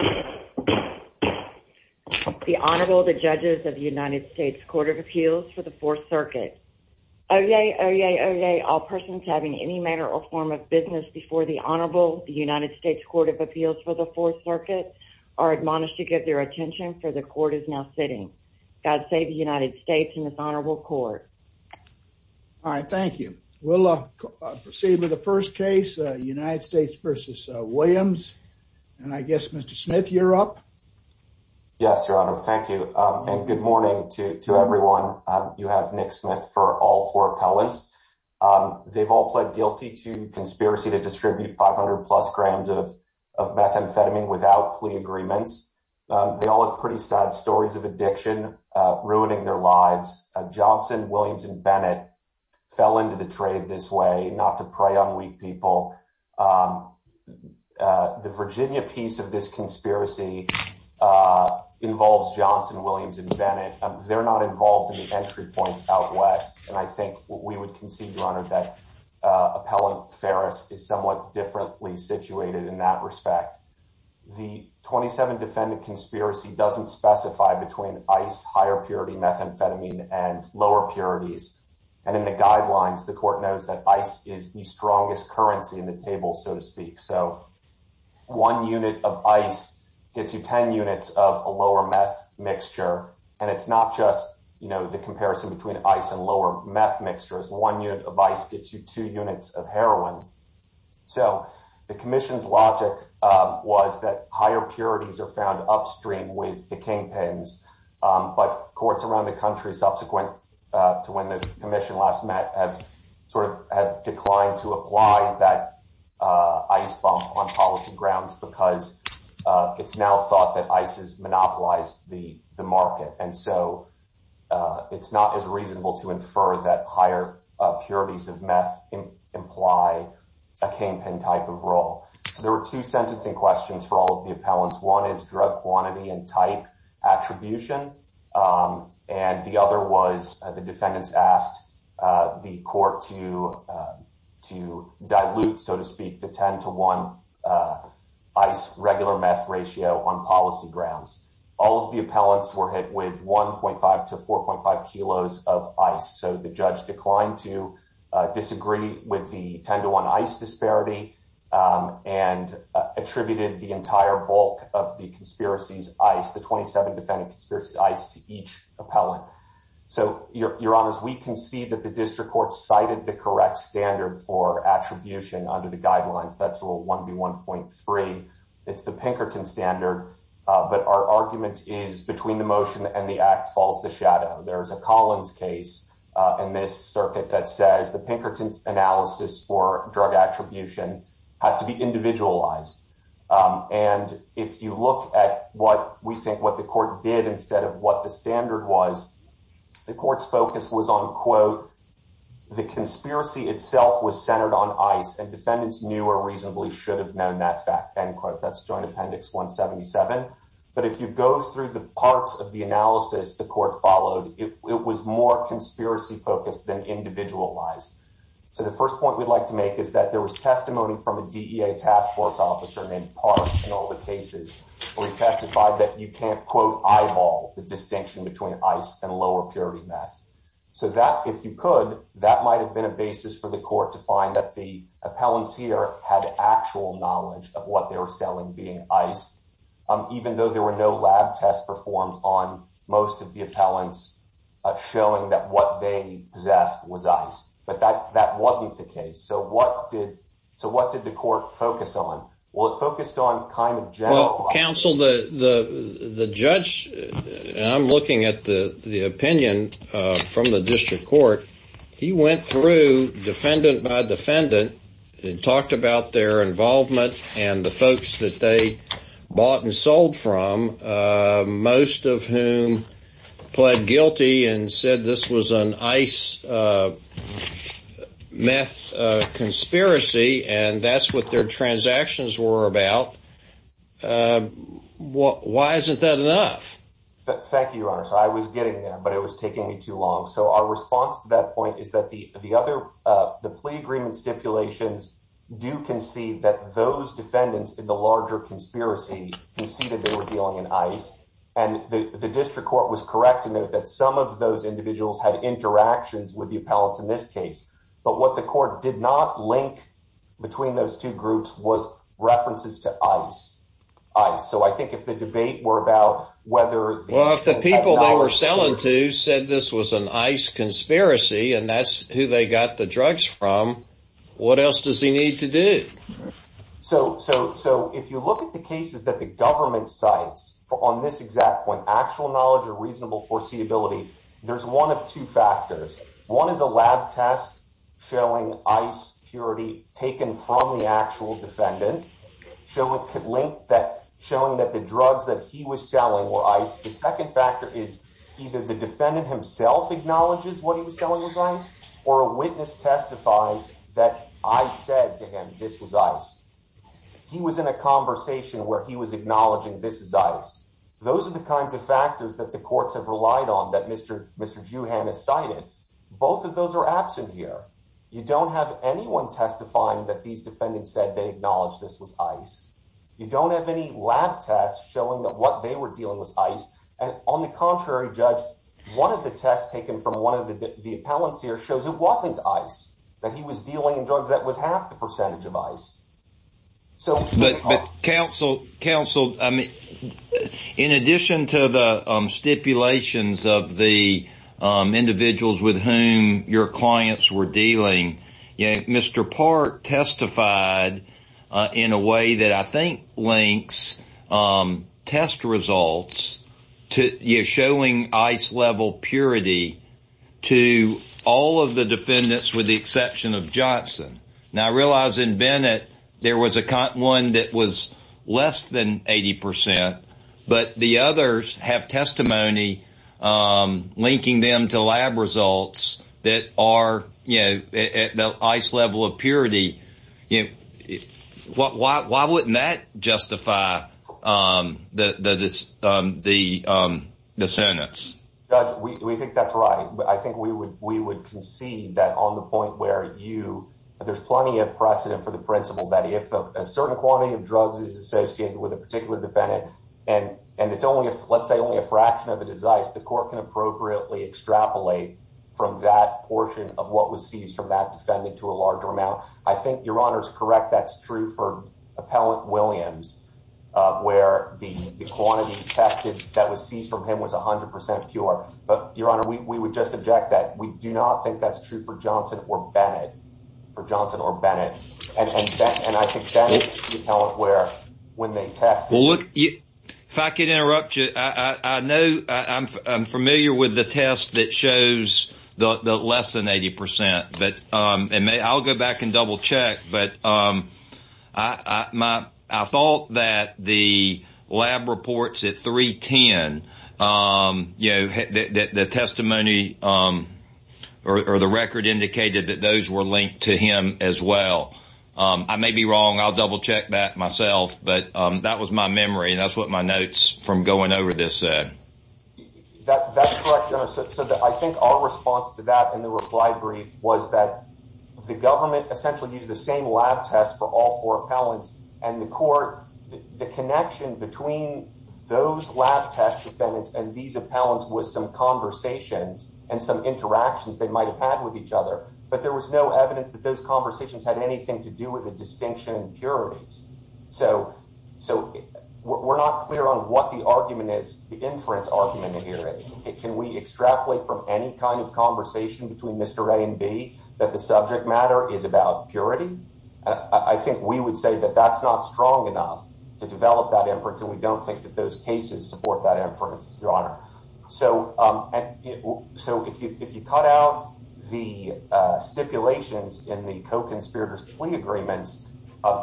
The Honorable, the Judges of the United States Court of Appeals for the Fourth Circuit. Oyez, oyez, oyez, all persons having any matter or form of business before the Honorable, the United States Court of Appeals for the Fourth Circuit, are admonished to give their attention for the Court is now sitting. God save the United States and this Honorable Court. All right, thank you. We'll proceed with the first case, United States v. Williams. And I guess, Mr. Smith, you're up. Yes, Your Honor. Thank you. And good morning to everyone. You have Nick Smith for all four appellants. They've all pled guilty to conspiracy to distribute 500 plus grams of methamphetamine without plea agreements. They all have pretty sad stories of addiction ruining their lives. Johnson, Williams and Bennett fell into the trade this way, not to prey on weak people. The Virginia piece of this conspiracy involves Johnson, Williams and Bennett. They're not involved in the entry points out west. And I think we would concede, Your Honor, that Appellant Ferris is somewhat differently situated in that respect. The 27 defendant conspiracy doesn't specify between ice, higher purity methamphetamine and lower purities. And in the guidelines, the Court knows that ice is the strongest currency in the table, so to speak. So one unit of ice gets you 10 units of a lower meth mixture. And it's not just, you know, the comparison between ice and lower meth mixtures. One unit of ice gets you two units of heroin. So the commission's logic was that higher purities are found upstream with the kingpins. But courts around the country, subsequent to when the commission last met, have sort of have declined to apply that ice bump on policy grounds because it's now thought that ice has monopolized the market. And so it's not as reasonable to infer that higher purities of meth imply a kingpin type of role. So there were two sentencing questions for all of the appellants. One is drug quantity and type attribution. And the other was the defendants asked the court to dilute, so to speak, the 10 to 1 ice regular meth ratio on policy grounds. All of the appellants were hit with 1.5 to 4.5 kilos of ice. So the judge declined to disagree with the 10 to 1 ice disparity and attributed the entire bulk of the conspiracies ice, the 27 defendant conspiracies ice, to each appellant. So, Your Honors, we can see that the district court cited the correct standard for attribution under the guidelines. That's rule 1B1.3. It's the Pinkerton standard. But our argument is between the motion and the act falls the shadow. There is a Collins case in this circuit that says the Pinkerton's analysis for drug attribution has to be individualized. And if you look at what we think what the court did instead of what the standard was, the court's focus was on, quote, the conspiracy itself was centered on ice. And defendants knew or reasonably should have known that fact, end quote. That's Joint Appendix 177. But if you go through the parts of the analysis the court followed, it was more conspiracy focused than individualized. So the first point we'd like to make is that there was testimony from a DEA task force officer named Park in all the cases where he testified that you can't, quote, eyeball the distinction between ice and lower purity meth. So that, if you could, that might have been a basis for the court to find that the appellants here had actual knowledge of what they were selling being ice, even though there were no lab tests performed on most of the appellants showing that what they possessed was ice. But that wasn't the case. So what did the court focus on? Well, it focused on kind of general. Well, counsel, the judge, and I'm looking at the opinion from the district court, he went through defendant by defendant and talked about their involvement and the folks that they bought and sold from, most of whom pled guilty and said this was an ice meth conspiracy and that's what their transactions were about. Why isn't that enough? Thank you, Your Honor. So I was getting there, but it was taking me too long. So our response to that point is that the plea agreement stipulations do concede that those defendants in the larger conspiracy conceded they were dealing in ice. And the district court was correct to note that some of those individuals had interactions with the appellants in this case. But what the court did not link between those two groups was references to ice. So I think if the debate were about whether— So if you look at the cases that the government cites on this exact point, actual knowledge or reasonable foreseeability, there's one of two factors. One is a lab test showing ice purity taken from the actual defendant, showing that the drugs that he was selling were ice. that the drugs were ice, or a witness testifies that I said to him this was ice. He was in a conversation where he was acknowledging this is ice. Those are the kinds of factors that the courts have relied on that Mr. Juhan has cited. Both of those are absent here. You don't have anyone testifying that these defendants said they acknowledged this was ice. You don't have any lab tests showing that what they were dealing with ice. On the contrary, Judge, one of the tests taken from one of the appellants here shows it wasn't ice, that he was dealing in drugs that was half the percentage of ice. But counsel, in addition to the stipulations of the individuals with whom your clients were dealing, Mr. Park testified in a way that I think links test results showing ice level purity to all of the defendants with the exception of Johnson. Now, I realize in Bennett, there was one that was less than 80%, but the others have testimony linking them to lab results that are at the ice level of purity. You know, why wouldn't that justify the sentence? Judge, we think that's right. I think we would concede that on the point where there's plenty of precedent for the principle that if a certain quantity of drugs is associated with a particular defendant, and it's only, let's say, only a fraction of it is ice, the court can appropriately extrapolate from that portion of what was seized from that defendant to a larger amount. I think your Honor's correct. That's true for Appellant Williams, where the quantity tested that was seized from him was 100% pure. But your Honor, we would just object that. We do not think that's true for Johnson or Bennett. For Johnson or Bennett. And I think that's where, when they tested... Well, look, if I could interrupt you. I know I'm familiar with the test that shows the less than 80%. And I'll go back and double check. But I thought that the lab reports at 310, you know, the testimony or the record indicated that those were linked to him as well. I may be wrong. I'll double check that myself. But that was my memory. And that's what my notes from going over this said. That's correct, Your Honor. So I think our response to that in the reply brief was that the government essentially used the same lab test for all four appellants. And the court, the connection between those lab test defendants and these appellants was some conversations and some interactions they might have had with each other. But there was no evidence that those conversations had anything to do with the distinction impurities. So we're not clear on what the argument is, the inference argument here is. Can we extrapolate from any kind of conversation between Mr. A and B that the subject matter is about purity? I think we would say that that's not strong enough to develop that inference. And we don't think that those cases support that inference, Your Honor. So if you cut out the stipulations in the co-conspirators plea agreements,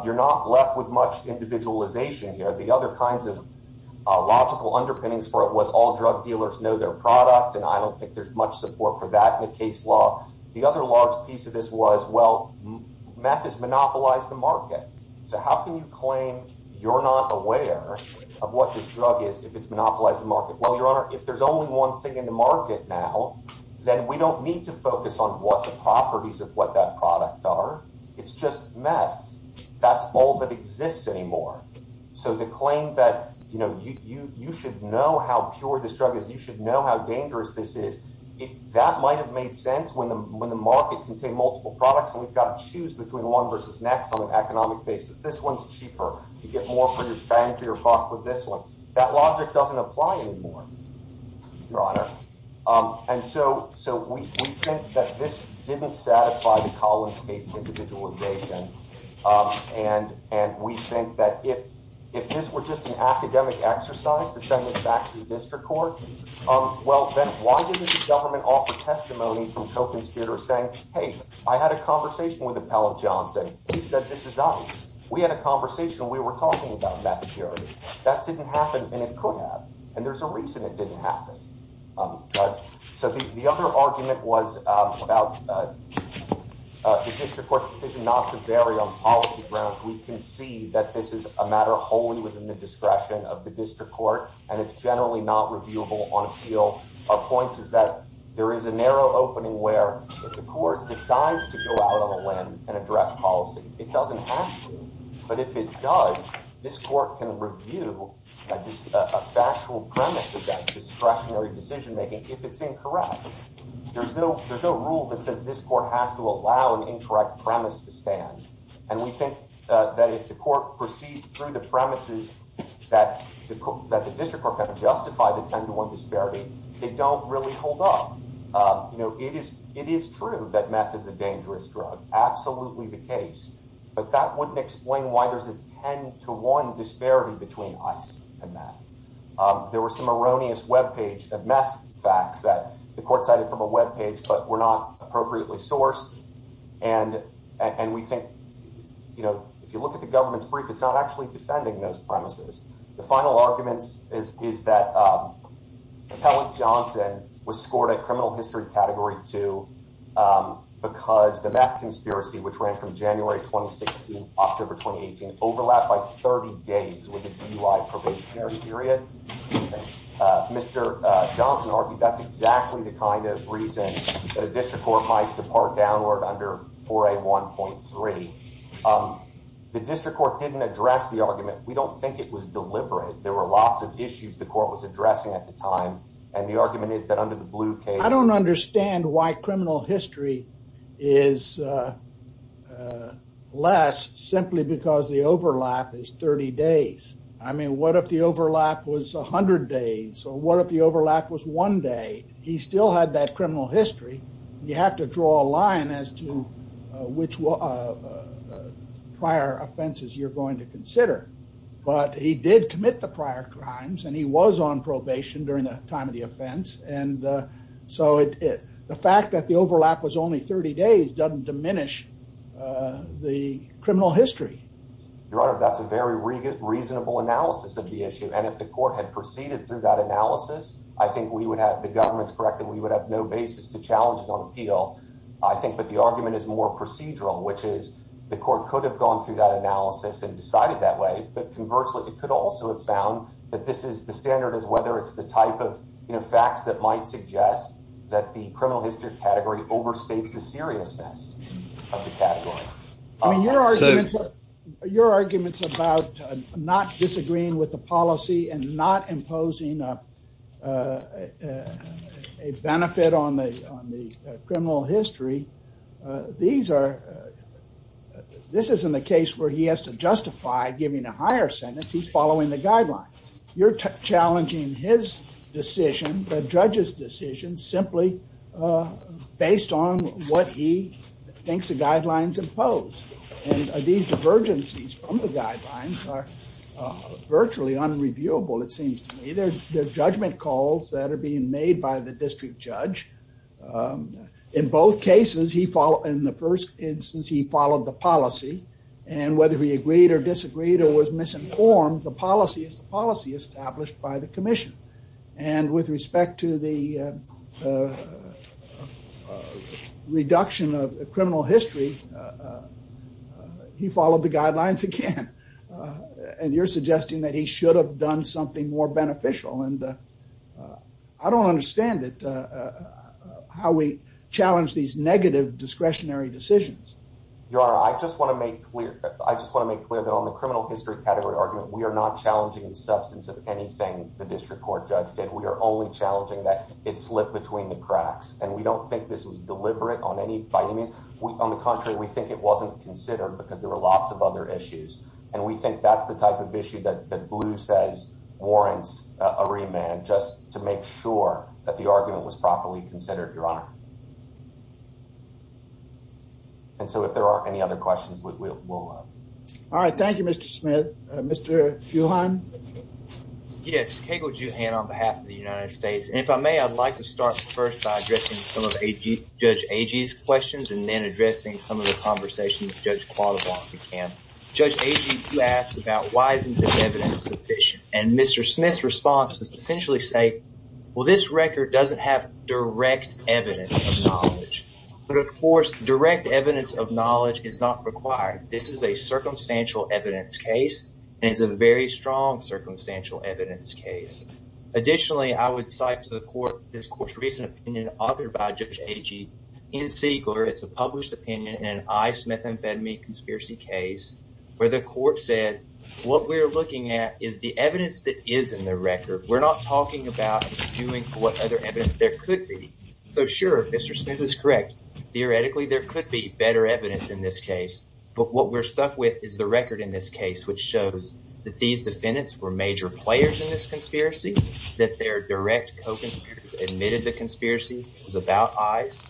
you're not left with much individualization here. The other kinds of logical underpinnings for it know their product, and I don't think there's much support for that in the case law. The other large piece of this was, well, meth has monopolized the market. So how can you claim you're not aware of what this drug is if it's monopolized the market? Well, Your Honor, if there's only one thing in the market now, then we don't need to focus on what the properties of what that product are. It's just meth. That's all that exists anymore. So the claim that you should know how pure this drug is, you should know how dangerous this is, that might have made sense when the market contained multiple products and we've got to choose between one versus next on an economic basis. This one's cheaper. You get more for your fang for your buck with this one. That logic doesn't apply anymore, Your Honor. And so we think that this didn't satisfy the Collins case of individualization. And we think that if this were just an academic exercise to send this back to the district court, well, then why didn't the government offer testimony from token speakers saying, hey, I had a conversation with Appellate Johnson. He said, this is us. We had a conversation. We were talking about methadone. That didn't happen and it could have. And there's a reason it didn't happen. So the other argument was about the district court's decision not to vary on policy grounds. We can see that this is a matter wholly within the discretion of the district court and it's generally not reviewable on appeal. Our point is that there is a narrow opening where if the court decides to go out on a limb and address policy, it doesn't have to. But if it does, this court can review a factual premise against discretionary decision making if it's incorrect. There's no rule that says this court has to allow an incorrect premise to stand. And we think that if the court proceeds through the premises that the district court had to justify the 10 to 1 disparity, they don't really hold up. It is true that meth is a dangerous drug. Absolutely the case. But that wouldn't explain why there's a 10 to 1 disparity between ice and meth. There were some erroneous web page of meth facts that the court cited from a web page but were not appropriately sourced. And we think if you look at the government's brief, it's not actually defending those premises. The final arguments is that Appellant Johnson was scored a criminal history category 2 because the meth conspiracy, which ran from January 2016, October 2018, overlapped by 30 days with a DUI probationary period. Mr. Johnson argued that's exactly the kind of reason that a district court might depart downward under 4A1.3. Um, the district court didn't address the argument. We don't think it was deliberate. There were lots of issues the court was addressing at the time. And the argument is that under the blue case, I don't understand why criminal history is less simply because the overlap is 30 days. I mean, what if the overlap was 100 days? So what if the overlap was one day? He still had that criminal history. You have to draw a line as to which prior offenses you're going to consider. But he did commit the prior crimes, and he was on probation during the time of the offense. And so the fact that the overlap was only 30 days doesn't diminish the criminal history. Your Honor, that's a very reasonable analysis of the issue. And if the court had proceeded through that analysis, I think we would have, the government's correct, we would have no basis to challenge it on appeal. I think that the argument is more procedural, which is the court could have gone through that analysis and decided that way. But conversely, it could also have found that this is, the standard is whether it's the type of facts that might suggest that the criminal history category overstates the seriousness of the category. I mean, your argument's about not disagreeing with the policy and not imposing a benefit on the criminal history. These are, this isn't a case where he has to justify giving a higher sentence. He's following the guidelines. You're challenging his decision, the judge's decision, simply based on what he thinks the guidelines impose. And these divergences from the guidelines are virtually unreviewable, it seems to me. They're judgment calls that are being made by the district judge. In both cases, he followed, in the first instance, he followed the policy. And whether he agreed or disagreed or was misinformed, the policy is the policy established by the commission. And with respect to the reduction of criminal history, he followed the guidelines again. And you're suggesting that he should have done something more beneficial. And I don't understand it, how we challenge these negative discretionary decisions. Your Honor, I just want to make clear, I just want to make clear that on the criminal history category argument, we are not challenging the substance of anything the district court judge did. We are only challenging that it slipped between the cracks. And we don't think this was deliberate on any vitamins. On the contrary, we think it wasn't considered because there were lots of other issues. And we think that's the type of issue that Blue says warrants a remand, just to make sure that the argument was properly considered, Your Honor. And so if there aren't any other questions, we'll... All right. Thank you, Mr. Smith. Mr. Juhan. Yes. Cagle Juhan on behalf of the United States. And if I may, I'd like to start first by addressing some of Judge Agee's questions and then addressing some of the conversations Judge Qualibon began. Judge Agee, you asked about why isn't this evidence sufficient? And Mr. Smith's response was to essentially say, well, this record doesn't have direct evidence of knowledge. But of course, direct evidence of knowledge is not required. This is a circumstantial evidence case and it's a very strong circumstantial evidence case. Additionally, I would cite to the court, this court's recent opinion authored by Judge Agee in City Court, it's a published opinion in an ICE methamphetamine conspiracy case where the court said, what we're looking at is the evidence that is in the record. We're not talking about doing what other evidence there could be. So sure, Mr. Smith is correct. Theoretically, there could be better evidence in this case. But what we're stuck with is the record in this case, which shows that these defendants were major players in this conspiracy, that their direct co-conspirators admitted the conspiracy was about ICE,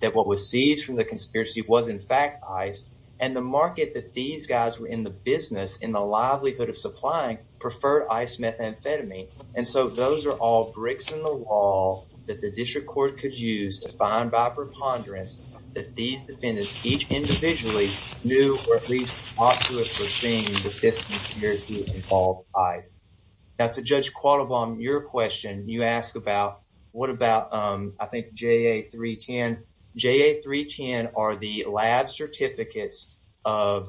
that what was seized from the conspiracy was in fact ICE, and the market that these guys were in the business, in the livelihood of supplying, preferred ICE methamphetamine. And so those are all bricks in the wall that the district court could use to find by preponderance that these defendants each individually knew or at least thought to have foreseen that this conspiracy involved ICE. Now, to Judge Qualibam, your question, you ask about what about, I think, JA-310. JA-310 are the lab certificates of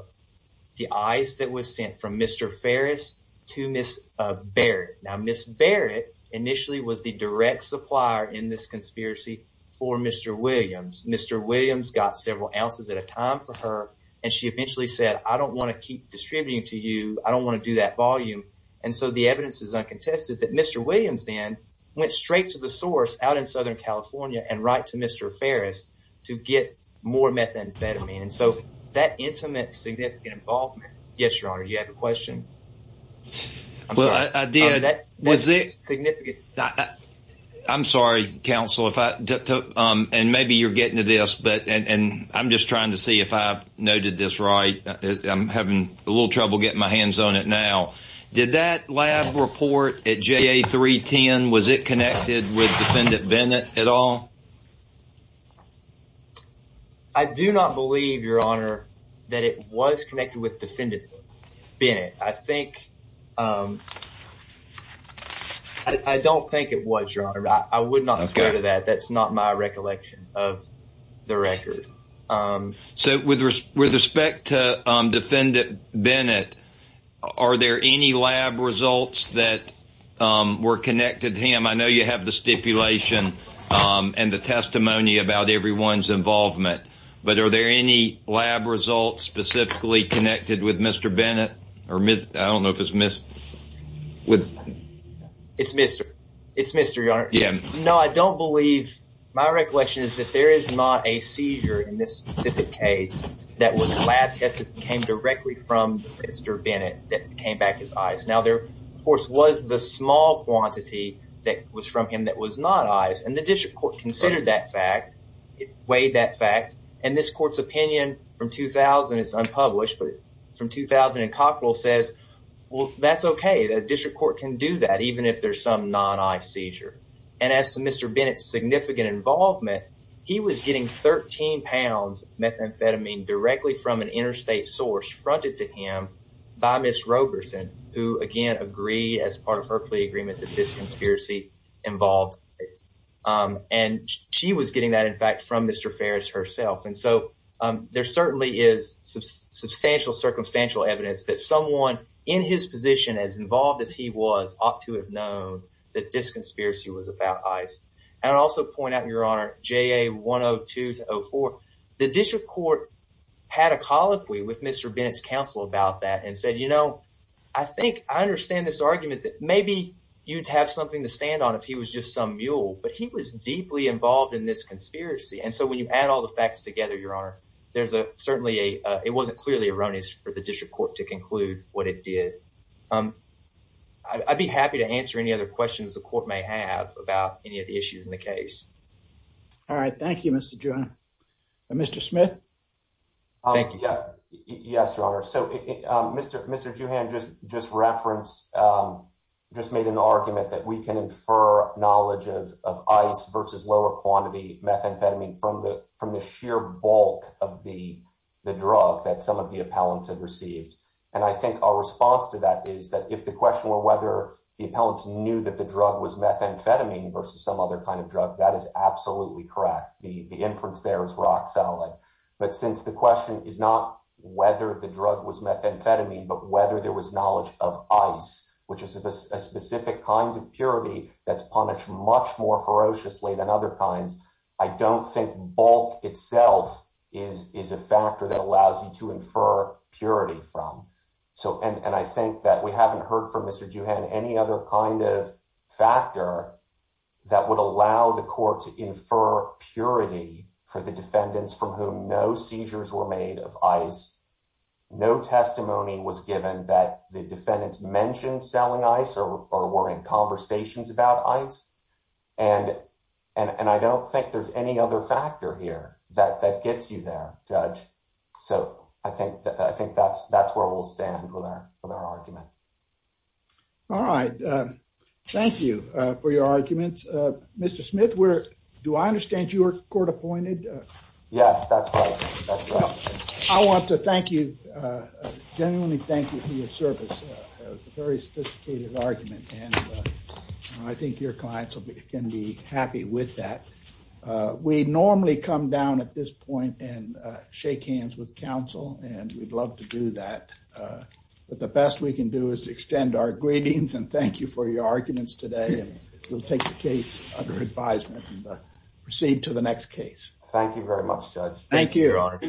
the ICE that was sent from Mr. Ferris to Ms. Barrett. Now, Ms. Barrett initially was the direct supplier in this conspiracy for Mr. Williams. Mr. Williams got several ounces at a time for her, and she eventually said, I don't want to keep distributing to you. I don't want to do that volume. And so the evidence is uncontested that Mr. Williams then went straight to the source out in Southern California and right to Mr. Ferris to get more methamphetamine. And so that intimate, significant involvement. Yes, Your Honor, you have a question? I'm sorry. Well, I did. Was it significant? I'm sorry, counsel, and maybe you're getting to this, but I'm just trying to see if I've noted this right. I'm having a little trouble getting my hands on it now. Did that lab report at JA310, was it connected with Defendant Bennett at all? I do not believe, Your Honor, that it was connected with Defendant Bennett. I think, I don't think it was, Your Honor. I would not go to that. That's not my recollection of the record. So with respect to Defendant Bennett, are there any lab results that were connected to him? I know you have the stipulation and the testimony about everyone's involvement, but are there any lab results specifically connected with Mr. Bennett? Or I don't know if it's with... It's Mr., it's Mr., Your Honor. Yeah. No, I don't believe, my recollection is that there is not a seizure in this specific case that was lab tested and came directly from Mr. Bennett that came back as eyes. Now there, of course, was the small quantity that was from him that was not eyes, and the district court considered that fact. It weighed that fact. And this court's opinion from 2000, it's unpublished, but from 2000 in Cockrell says, well, that's okay. The district court can do that even if there's some non-eye seizure. And as to Mr. Bennett's significant involvement, he was getting 13 pounds methamphetamine directly from an interstate source fronted to him by Ms. Roberson, who, again, agreed as part of her plea agreement that this conspiracy involved eyes. And she was getting that, in fact, from Mr. Ferris herself. And so there certainly is substantial, circumstantial evidence that someone in his position, as involved as he was, ought to have known that this conspiracy was about eyes. And I'll also point out, Your Honor, JA 102 to 04, the district court had a colloquy with Mr. Bennett's counsel about that and said, you know, I think I understand this argument that maybe you'd have something to stand on if he was just some mule, but he was deeply involved in this conspiracy. And so when you add all the facts together, Your Honor, there's certainly a, it wasn't clearly erroneous for the district court to conclude what it did. I'd be happy to answer any other questions the court may have about any of the issues in the case. All right, thank you, Mr. Juhann. Mr. Smith? Thank you. Yeah, yes, Your Honor. So Mr. Juhann just referenced, just made an argument that we can infer knowledge of eyes versus lower quantity methamphetamine from the sheer bulk of the drug that some of the appellants had received. And I think our response to that is that if the question were whether the appellants knew that the drug was methamphetamine versus some other kind of drug, that is absolutely correct. The inference there is rock solid. But since the question is not whether the drug was methamphetamine, but whether there was knowledge of ice, which is a specific kind of purity that's punished much more ferociously than other kinds, I don't think bulk itself is a factor that allows you to infer purity from. any other kind of factor that would allow the court to infer purity for the defendants from whom no seizures were made of ice, no testimony was given that the defendants mentioned selling ice or were in conversations about ice. And I don't think there's any other factor here that gets you there, Judge. So I think that's where we'll stand with our argument. All right. Thank you for your arguments. Mr. Smith, do I understand you were court appointed? Yes, that's right. I want to thank you, genuinely thank you for your service. That was a very sophisticated argument and I think your clients can be happy with that. We normally come down at this point and shake hands with counsel and we'd love to do that. But the best we can do is extend our greetings and thank you for your arguments today. We'll take the case under advisement and proceed to the next case. Thank you very much, Judge. Thank you, Your Honor.